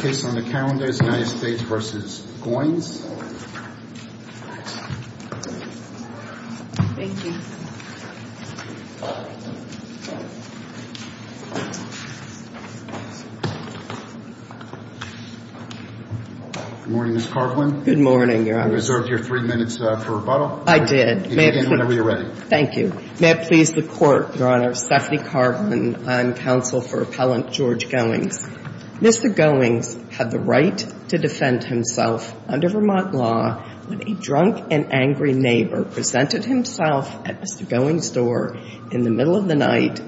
Good morning, Ms. Carvelin. Good morning, Your Honor. You reserved your three minutes for rebuttal. I did. Again, whenever you're ready. Thank you. May it please the Court, Your Honor, Stephanie Carvelin. I'm counsel for appellant George Goings. Mr. Goings had the right to defend himself under Vermont law when a drunk and angry neighbor presented himself at Mr. Goings' door in the middle of the night,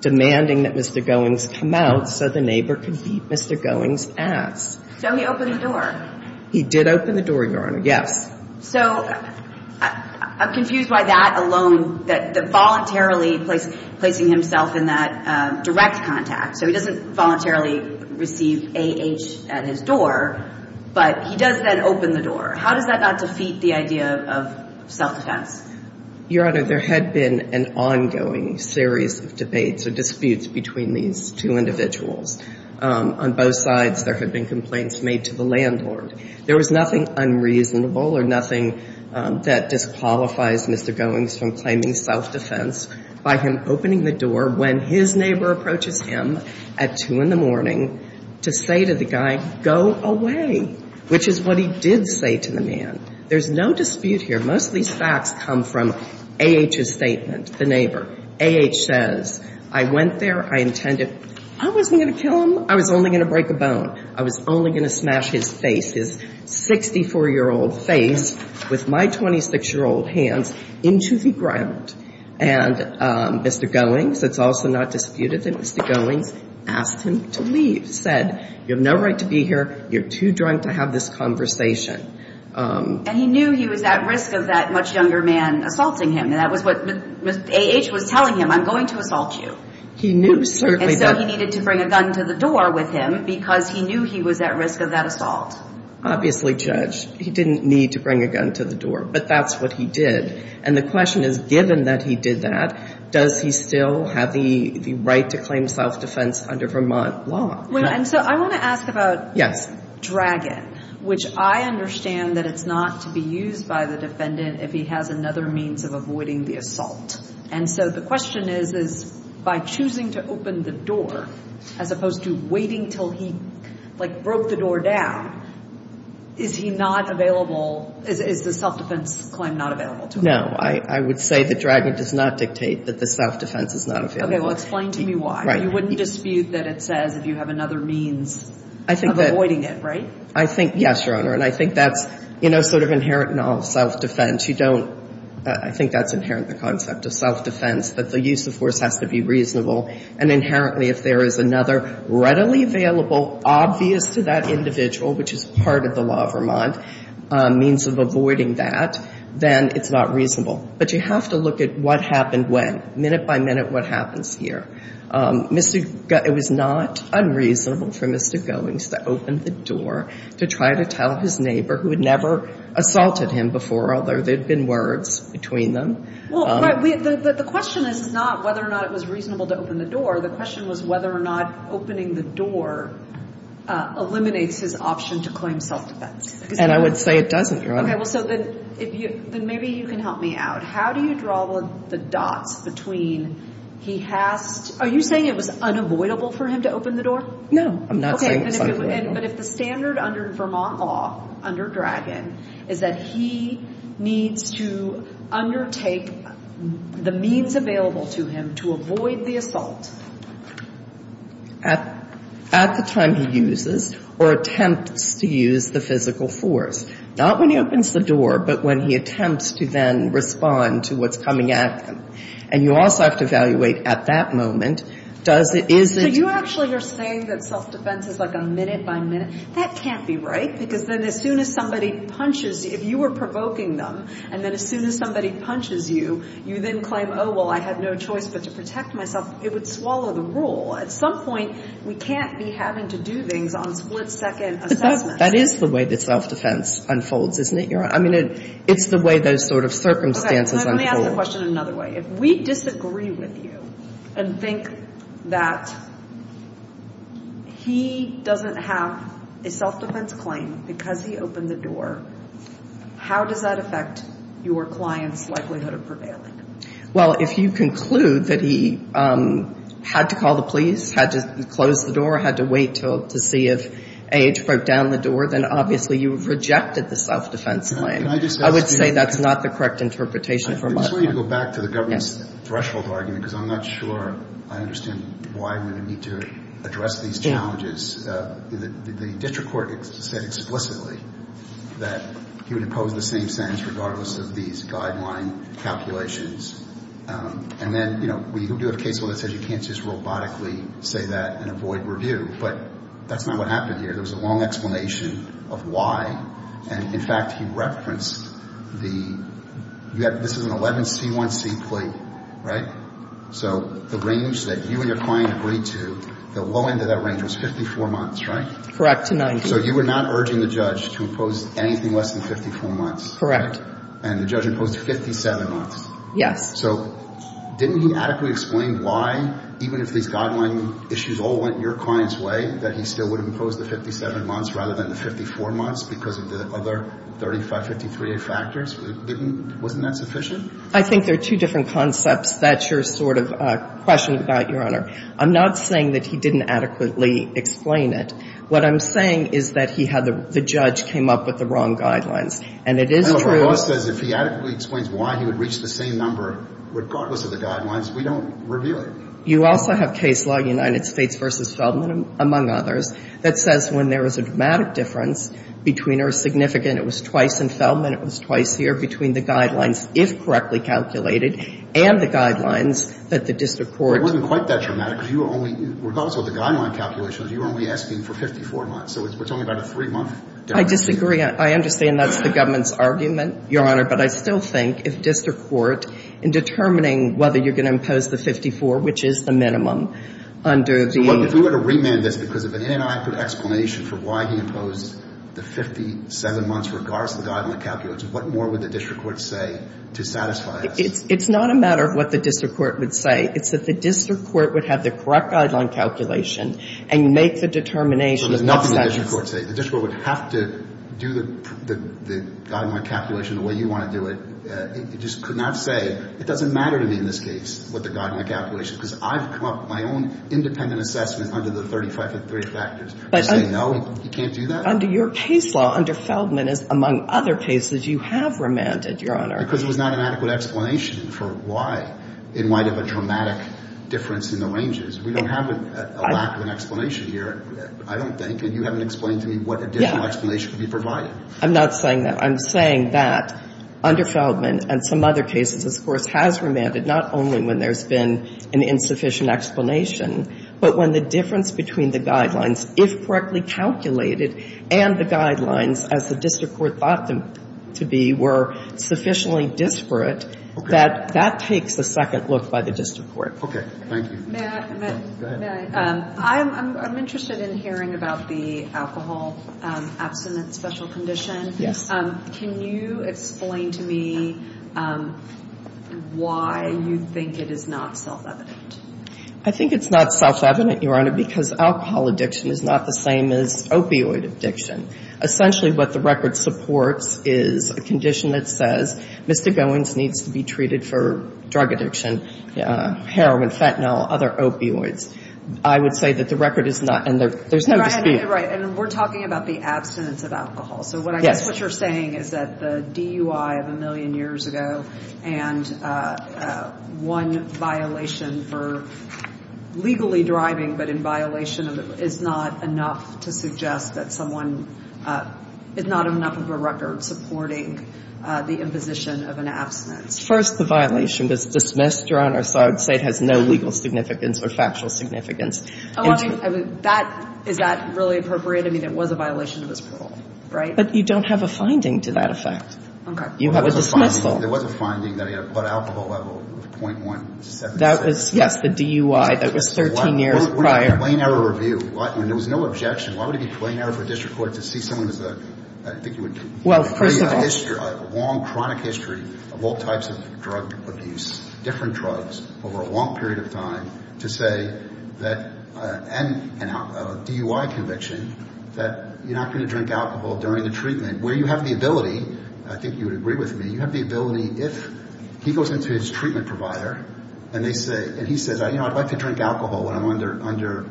demanding that Mr. Goings come out so the neighbor could beat Mr. Goings' ass. So he opened the door? He did open the door, Your Honor, yes. So I'm confused why that alone that voluntarily placing himself in that direct contact. So he doesn't voluntarily receive A-H at his door, but he does then open the door. How does that not defeat the idea of self-defense? Your Honor, there had been an ongoing series of debates or disputes between these two individuals. On both sides, there had been complaints made to the landlord. There was nothing unreasonable or nothing that disqualifies Mr. Goings from claiming self-defense by him opening the door when his neighbor approaches him at 2 in the morning to say to the guy, go away, which is what he did say to the man. There's no dispute here. Most of these facts come from A-H's statement, the neighbor. A-H says, I went there, I intended, I wasn't going to kill him. I was only going to break a bone. I was only going to smash his face, his 64-year-old face with my 26-year-old hands into the ground. And Mr. Goings, it's also not disputed that Mr. Goings asked him to leave, said you have no right to be here, you're too old for this conversation. And he knew he was at risk of that much younger man assaulting him. And that was what A-H was telling him, I'm going to assault you. And so he needed to bring a gun to the door with him because he knew he was at risk of that assault. Obviously, Judge, he didn't need to bring a gun to the door, but that's what he did. And the other thing I want to point out is that A-H did not claim self-defense under Vermont law. And so I want to ask about Dragon, which I understand that it's not to be used by the defendant if he has another means of avoiding the assault. And so the question is, is by choosing to open the door, as opposed to waiting until he, like, broke the door down, is he not available, is the self-defense claim not available to him? No. I would say that Dragon does not dictate that the self-defense is not available. Okay. Well, explain to me why. Right. You wouldn't dispute that it says if you have another means of avoiding it, right? I think, yes, Your Honor. And I think that's, you know, sort of inherent in all self-defense. You don't – I think that's inherent, the concept of self-defense, that the use of force has to be reasonable. And inherently, if there is another readily available, obvious to that individual, which is part of the law of Vermont, means of avoiding that, then it's not reasonable. But you have to look at what happened when, minute by minute, what happens here. Mr. – it was not unreasonable for Mr. Goings to open the door to try to tell his neighbor, who had never assaulted him before, although there had been words between them. Well, right. The question is not whether or not it was reasonable to open the door. The question was whether or not opening the door eliminates his option to claim self-defense. And I would say it doesn't, Your Honor. Okay. Well, so then maybe you can help me out. How do you draw the dots between he has to – are you saying it was unavoidable for him to open the door? No. I'm not saying it was unavoidable. But if the standard under Vermont law, under Dragon, is that he needs to undertake the means available to him to avoid the assault? At the time he uses or attempts to use the physical force. Not when he opens the door, but when he attempts to then respond to what's coming at him. And you also have to evaluate at that moment, does it – is it – So you actually are saying that self-defense is like a minute by minute? That can't be right. Because then as soon as somebody punches – if you were provoking them, and then as soon as somebody punches you, you then claim, oh, well, I had no choice but to protect myself, it would swallow the rule. At some point, we can't be having to do things on split-second assessments. But that is the way that self-defense unfolds, isn't it, Your Honor? I mean, it's the way those sort of circumstances unfold. Okay. So let me ask the question another way. If we disagree with you and think that he doesn't have a self-defense claim because he opened the door, how does that affect your client's likelihood of prevailing? Well, if you conclude that he had to call the police, had to close the door, had to wait to see if A.H. broke down the door, then obviously you have rejected the self-defense claim. Can I just ask you – I would say that's not the correct interpretation for my point. I just want you to go back to the government's threshold argument, because I'm not sure I understand why we would need to address these challenges. Yeah. The district court said explicitly that he would impose the same sentence regardless of these guideline calculations. And then, you know, we do have a case where it says you can't just robotically say that and avoid review. But that's not what happened here. There was a long explanation of why. And, in fact, he referenced the – you have – this is an 11C1C plea, right? So the range that you and your client agreed to, the low end of that range was 54 months, right? Correct, to 19. So you were not urging the judge to impose anything less than 54 months. Correct. And the judge imposed 57 months. Yes. So didn't he adequately explain why, even if these guideline issues all went your client's way, that he still would impose the 57 months rather than the 54 months because of the other 35 – 53A factors? Didn't – wasn't that sufficient? I think they're two different concepts. That's your sort of question about, Your Honor. I'm not saying that he didn't adequately explain it. What I'm saying is that he had – the judge came up with the wrong guidelines. And it is true – I know, but the law says if he adequately explains why he would reach the same number regardless of the guidelines, we don't review it. You also have case law, United States v. Feldman, among others, that says when there is a dramatic difference between or significant – it was twice in Feldman, it was twice here – between the guidelines, if correctly calculated, and the guidelines that the district court – It wasn't quite that dramatic because you were only – regardless of the guideline calculations, you were only asking for 54 months. So we're talking about a three-month difference here. I disagree. I understand that's the government's argument, Your Honor, but I still think if district court, in determining whether you're going to impose the 54, which is the minimum under the – If we were to remand this because of an inaccurate explanation for why he imposed the 57 months regardless of the guideline calculations, what more would the district court say to satisfy us? It's not a matter of what the district court would say. It's that the district court would have the correct guideline calculation and make the determination of the sentence. There's nothing the district court would say. The district court would have to do the It just could not say, it doesn't matter to me in this case what the guideline calculations, because I've come up with my own independent assessment under the 35 of the three factors. But under – To say no, you can't do that? Under your case law, under Feldman, as among other cases, you have remanded, Your Honor. Because it was not an adequate explanation for why, in light of a dramatic difference in the ranges. We don't have a lack of an explanation here, I don't think, and you haven't explained to me what additional explanation could be provided. I'm not saying that. I'm saying that under Feldman and some other cases, of course, has remanded, not only when there's been an insufficient explanation, but when the difference between the guidelines, if correctly calculated, and the guidelines as the district court thought them to be, were sufficiently disparate, that that takes a second look by the district court. Okay. Thank you. May I? Go ahead. I'm interested in hearing about the alcohol abstinence special condition. Can you explain to me why you think it is not self-evident? I think it's not self-evident, Your Honor, because alcohol addiction is not the same as opioid addiction. Essentially, what the record supports is a condition that says Mr. Goins needs to be treated for drug addiction, heroin, fentanyl, other opioids. I would say that the record is not, and there's no dispute. Right. And we're talking about the abstinence of alcohol. Yes. So I guess what you're saying is that the DUI of a million years ago and one violation for legally driving, but in violation of, is not enough to suggest that someone is not enough of a record supporting the imposition of an abstinence. First, the violation was dismissed, Your Honor, so I would say it has no legal significance or factual significance. Is that really appropriate? I mean, it was a violation of his parole, right? But you don't have a finding to that effect. Okay. You have a dismissal. There was a finding that he had a blood alcohol level of .176. That is, yes, the DUI that was 13 years prior. Plain error review. There was no objection. Why would it be plain error for a district court to see someone as a, I think different drugs over a long period of time to say that, and a DUI conviction, that you're not going to drink alcohol during the treatment, where you have the ability, I think you would agree with me, you have the ability, if he goes into his treatment provider and they say, and he says, you know, I'd like to drink alcohol when I'm under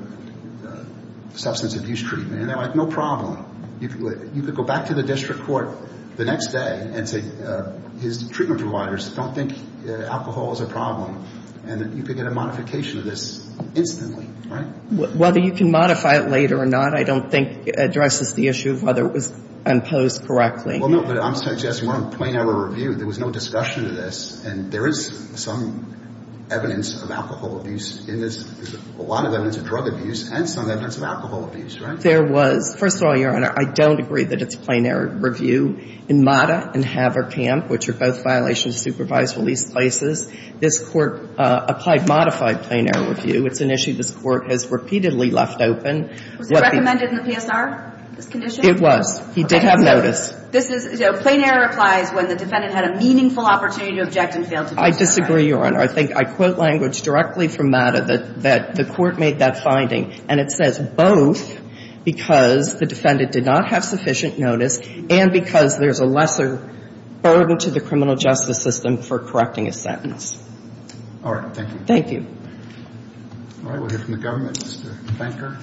substance abuse treatment. And they're like, no problem. You could go back to the district court the next day and say his treatment providers don't think alcohol is a problem and that you could get a modification of this instantly, right? Whether you can modify it later or not, I don't think addresses the issue of whether it was imposed correctly. Well, no, but I'm suggesting we're on plain error review. There was no discussion of this. And there is some evidence of alcohol abuse in this. There's a lot of evidence of drug abuse and some evidence of alcohol abuse, right? There was. First of all, Your Honor, I don't agree that it's plain error review in MATA and MAVR-CAMP, which are both violation of supervised release places. This Court applied modified plain error review. It's an issue this Court has repeatedly left open. Was it recommended in the PSR, this condition? It was. He did have notice. This is, you know, plain error applies when the defendant had a meaningful opportunity to object and failed to do so. I disagree, Your Honor. I think I quote language directly from MATA that the Court made that finding. And it says both because the defendant did not have sufficient notice and because there's a lesser burden to the criminal justice system for correcting a sentence. All right. Thank you. Thank you. All right. We'll hear from the government. Mr. Banker.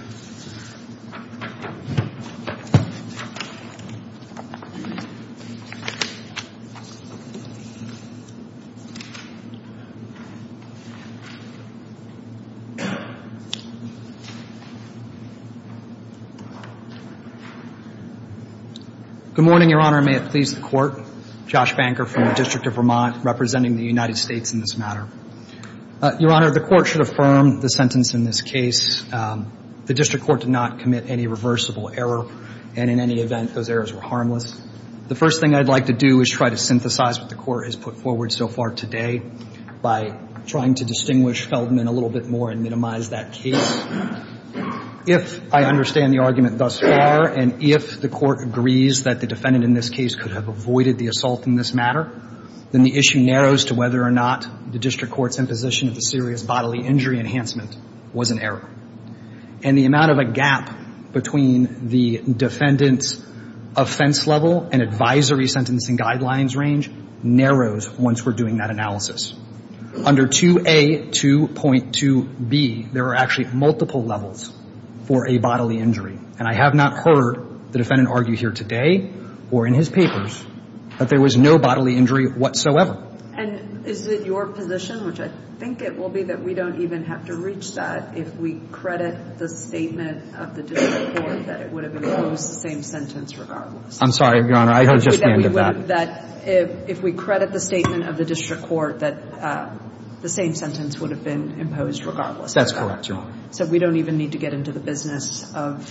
Good morning, Your Honor. May it please the Court. Josh Banker from the District of Vermont, representing the United States in this matter. Your Honor, the Court should affirm the sentence in this case. The district court did not commit any reversible error. And in any event, those errors were harmless. The first thing I'd like to do is try to synthesize what the Court has put forward so far today by trying to distinguish Feldman a little bit more and minimize that case. If I understand the argument thus far and if the Court agrees that the defendant in this case could have avoided the assault in this matter, then the issue narrows to whether or not the district court's imposition of a serious bodily injury enhancement was an error. And the amount of a gap between the defendant's offense level and advisory sentencing guidelines range narrows once we're doing that analysis. Under 2A2.2b, there are actually multiple levels for a bodily injury. And I have not heard the defendant argue here today or in his papers that there was no bodily injury whatsoever. And is it your position, which I think it will be that we don't even have to reach that, if we credit the statement of the district court that it would have imposed the same sentence regardless? I'm sorry, Your Honor. I heard just the end of that. That if we credit the statement of the district court that the same sentence would have been imposed regardless. That's correct, Your Honor. So we don't even need to get into the business of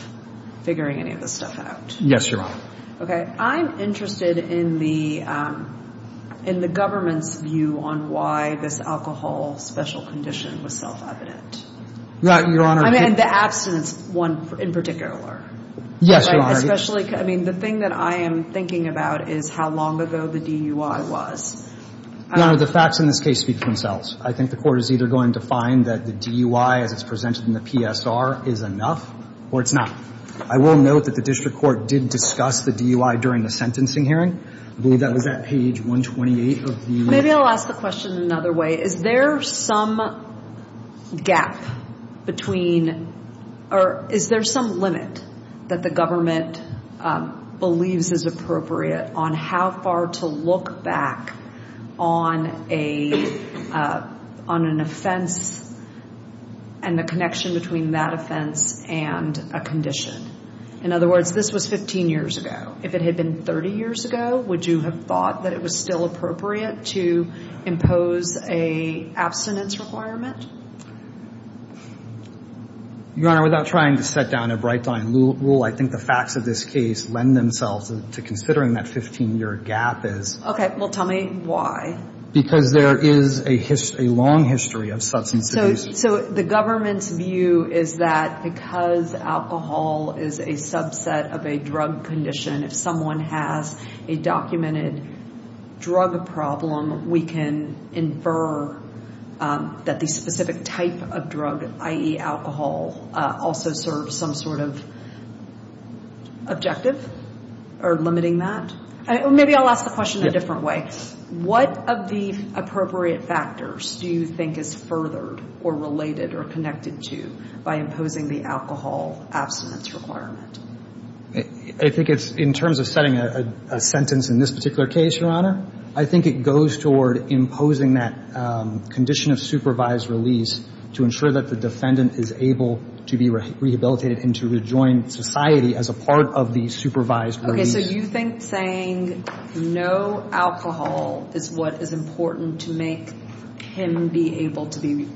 figuring any of this stuff out. Yes, Your Honor. Okay. I'm interested in the government's view on why this alcohol special condition was self-evident. Your Honor. I mean, the abstinence one in particular. Yes, Your Honor. I mean, the thing that I am thinking about is how long ago the DUI was. Your Honor, the facts in this case speak for themselves. I think the court is either going to find that the DUI, as it's presented in the PSR, is enough or it's not. I will note that the district court did discuss the DUI during the sentencing hearing. I believe that was at page 128 of the... Maybe I'll ask the question another way. Is there some gap between or is there some limit that the government believes is appropriate on how far to look back on an offense and the connection between that offense and a condition? In other words, this was 15 years ago. If it had been 30 years ago, would you have thought that it was still appropriate to impose an abstinence requirement? Your Honor, without trying to set down a bright line rule, I think the facts of this case lend themselves to considering that 15-year gap is... Well, tell me why. Because there is a long history of substance abuse. The government's view is that because alcohol is a subset of a drug condition, if someone has a documented drug problem, we can infer that the specific type of drug, i.e. alcohol, also serves some sort of objective or limiting that? Maybe I'll ask the question a different way. What of the appropriate factors do you think is furthered or related or connected to by imposing the alcohol abstinence requirement? I think in terms of setting a sentence in this particular case, Your Honor, I think it goes toward imposing that condition of supervised release to ensure that the defendant is able to be rehabilitated and to rejoin society as a part of the supervised release. Okay, so you think saying no alcohol is what is important to make him be able to be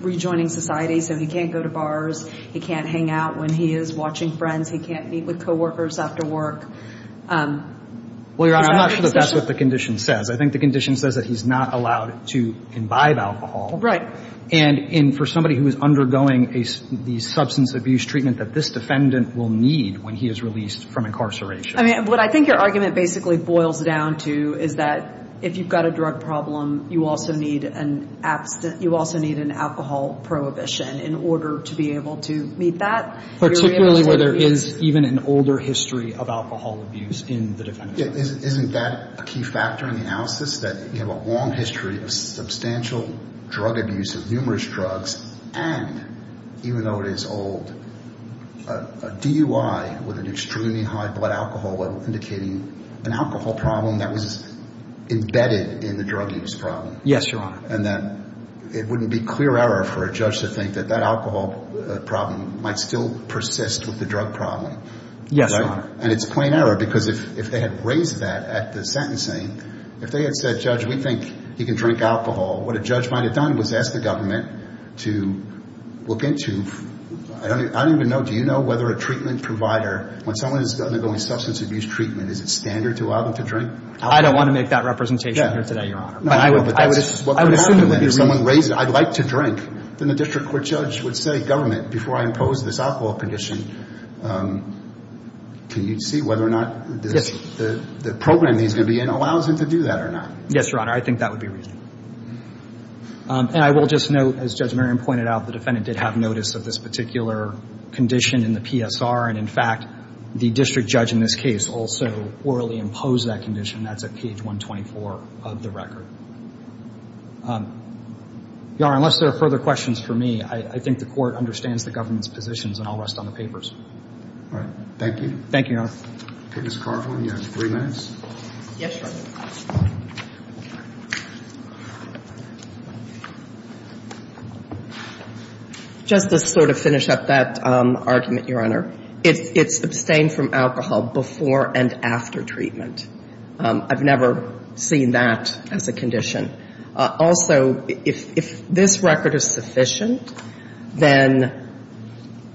rejoining society so he can't go to bars, he can't hang out when he is watching friends, he can't meet with coworkers after work? Well, Your Honor, I'm not sure that that's what the condition says. I think the condition says that he's not allowed to imbibe alcohol. Right. And for somebody who is undergoing the substance abuse treatment that this generation. I mean, what I think your argument basically boils down to is that if you've got a drug problem, you also need an alcohol prohibition in order to be able to meet that. Particularly where there is even an older history of alcohol abuse in the defendant's life. Isn't that a key factor in the analysis, that you have a long history of substantial drug abuse of numerous drugs, and even though it is old, a DUI with an extremely high blood alcohol level indicating an alcohol problem that was embedded in the drug use problem. Yes, Your Honor. And that it wouldn't be clear error for a judge to think that that alcohol problem might still persist with the drug problem. Yes, Your Honor. And it's plain error because if they had raised that at the sentencing, if they had said, Judge, we think he can drink alcohol, what a judge might have done was ask the government to look into, I don't even know, do you know whether a treatment provider, when someone is undergoing substance abuse treatment, is it standard to allow them to drink alcohol? I don't want to make that representation here today, Your Honor. I would assume it would be reasonable. If someone raised, I'd like to drink, then the district court judge would say, government, before I impose this alcohol condition, can you see whether or not the program he's going to be in allows him to do that or not? Yes, Your Honor. I think that would be reasonable. And I will just note, as Judge Merriam pointed out, the defendant did have notice of this particular condition in the PSR. And, in fact, the district judge in this case also orally imposed that condition. That's at page 124 of the record. Your Honor, unless there are further questions for me, I think the court understands the government's positions, and I'll rest on the papers. All right. Thank you. Thank you, Your Honor. Ms. Carvin, you have three minutes. Yes, Your Honor. Just to sort of finish up that argument, Your Honor, it's abstained from alcohol before and after treatment. I've never seen that as a condition. Also, if this record is sufficient, then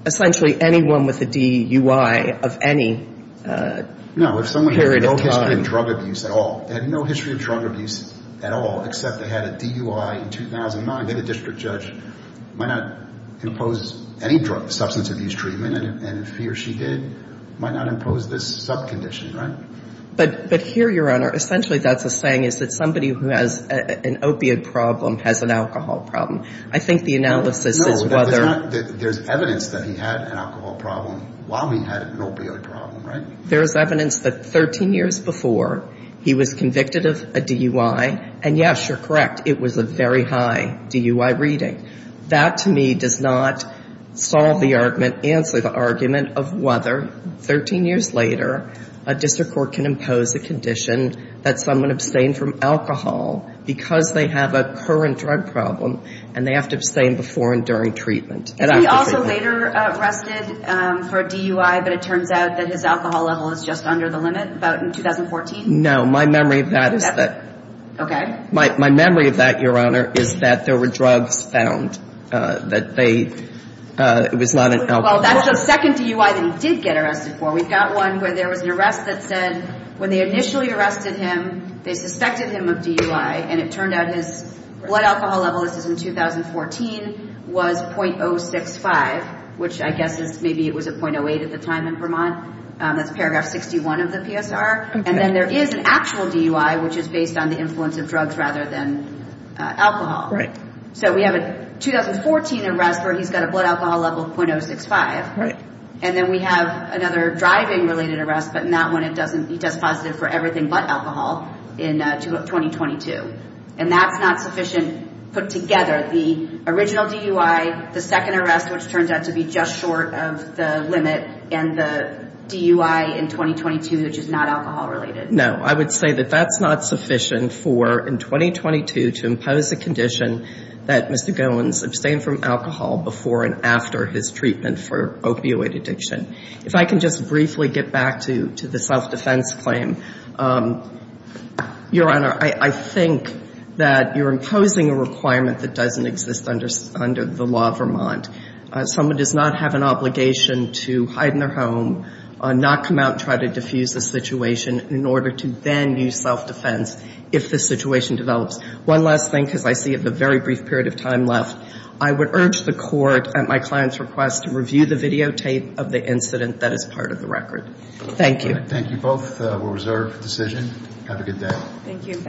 essentially anyone with a DUI of any period No. If someone had no history of drug abuse at all, they had no history of drug abuse at all, except they had a DUI in 2009. Then the district judge might not impose any substance abuse treatment. And if he or she did, might not impose this subcondition, right? But here, Your Honor, essentially that's a saying is that somebody who has an opiate problem has an alcohol problem. I think the analysis is whether No, there's not. There's evidence that he had an alcohol problem while he had an opioid problem, right? There's evidence that 13 years before, he was convicted of a DUI. And, yes, you're correct. It was a very high DUI reading. That, to me, does not solve the argument, answer the argument of whether 13 years later a district court can impose a condition that someone abstained from alcohol because they have a current drug problem and they have to abstain before and during treatment. Was he also later arrested for a DUI, but it turns out that his alcohol level is just under the limit, about in 2014? No. My memory of that is that Okay. My memory of that, Your Honor, is that there were drugs found, that they, it was not an alcohol problem. Well, that's the second DUI that he did get arrested for. We've got one where there was an arrest that said when they initially arrested him, they suspected him of DUI, and it turned out his blood alcohol level, this was in 2014, was .065, which I guess is maybe it was a .08 at the time in That's paragraph 61 of the PSR. Okay. And then there is an actual DUI, which is based on the influence of drugs rather than alcohol. Right. So we have a 2014 arrest where he's got a blood alcohol level of .065. Right. And then we have another driving-related arrest, but in that one it doesn't, he does positive for everything but alcohol in 2022. And that's not sufficient put together. The original DUI, the second arrest, which turns out to be just short of the limit, and the DUI in 2022, which is not alcohol-related. No. I would say that that's not sufficient for, in 2022, to impose a condition that Mr. Goins abstain from alcohol before and after his treatment for opioid addiction. If I can just briefly get back to the self-defense claim, Your Honor, I think that you're imposing a requirement that doesn't exist under the law of Vermont. Someone does not have an obligation to hide in their home, not come out and try to diffuse the situation in order to then use self-defense if the situation develops. One last thing, because I see we have a very brief period of time left. I would urge the court, at my client's request, to review the videotape of the incident that is part of the record. Thank you. Thank you both. We'll reserve the decision. Have a good day. Thank you.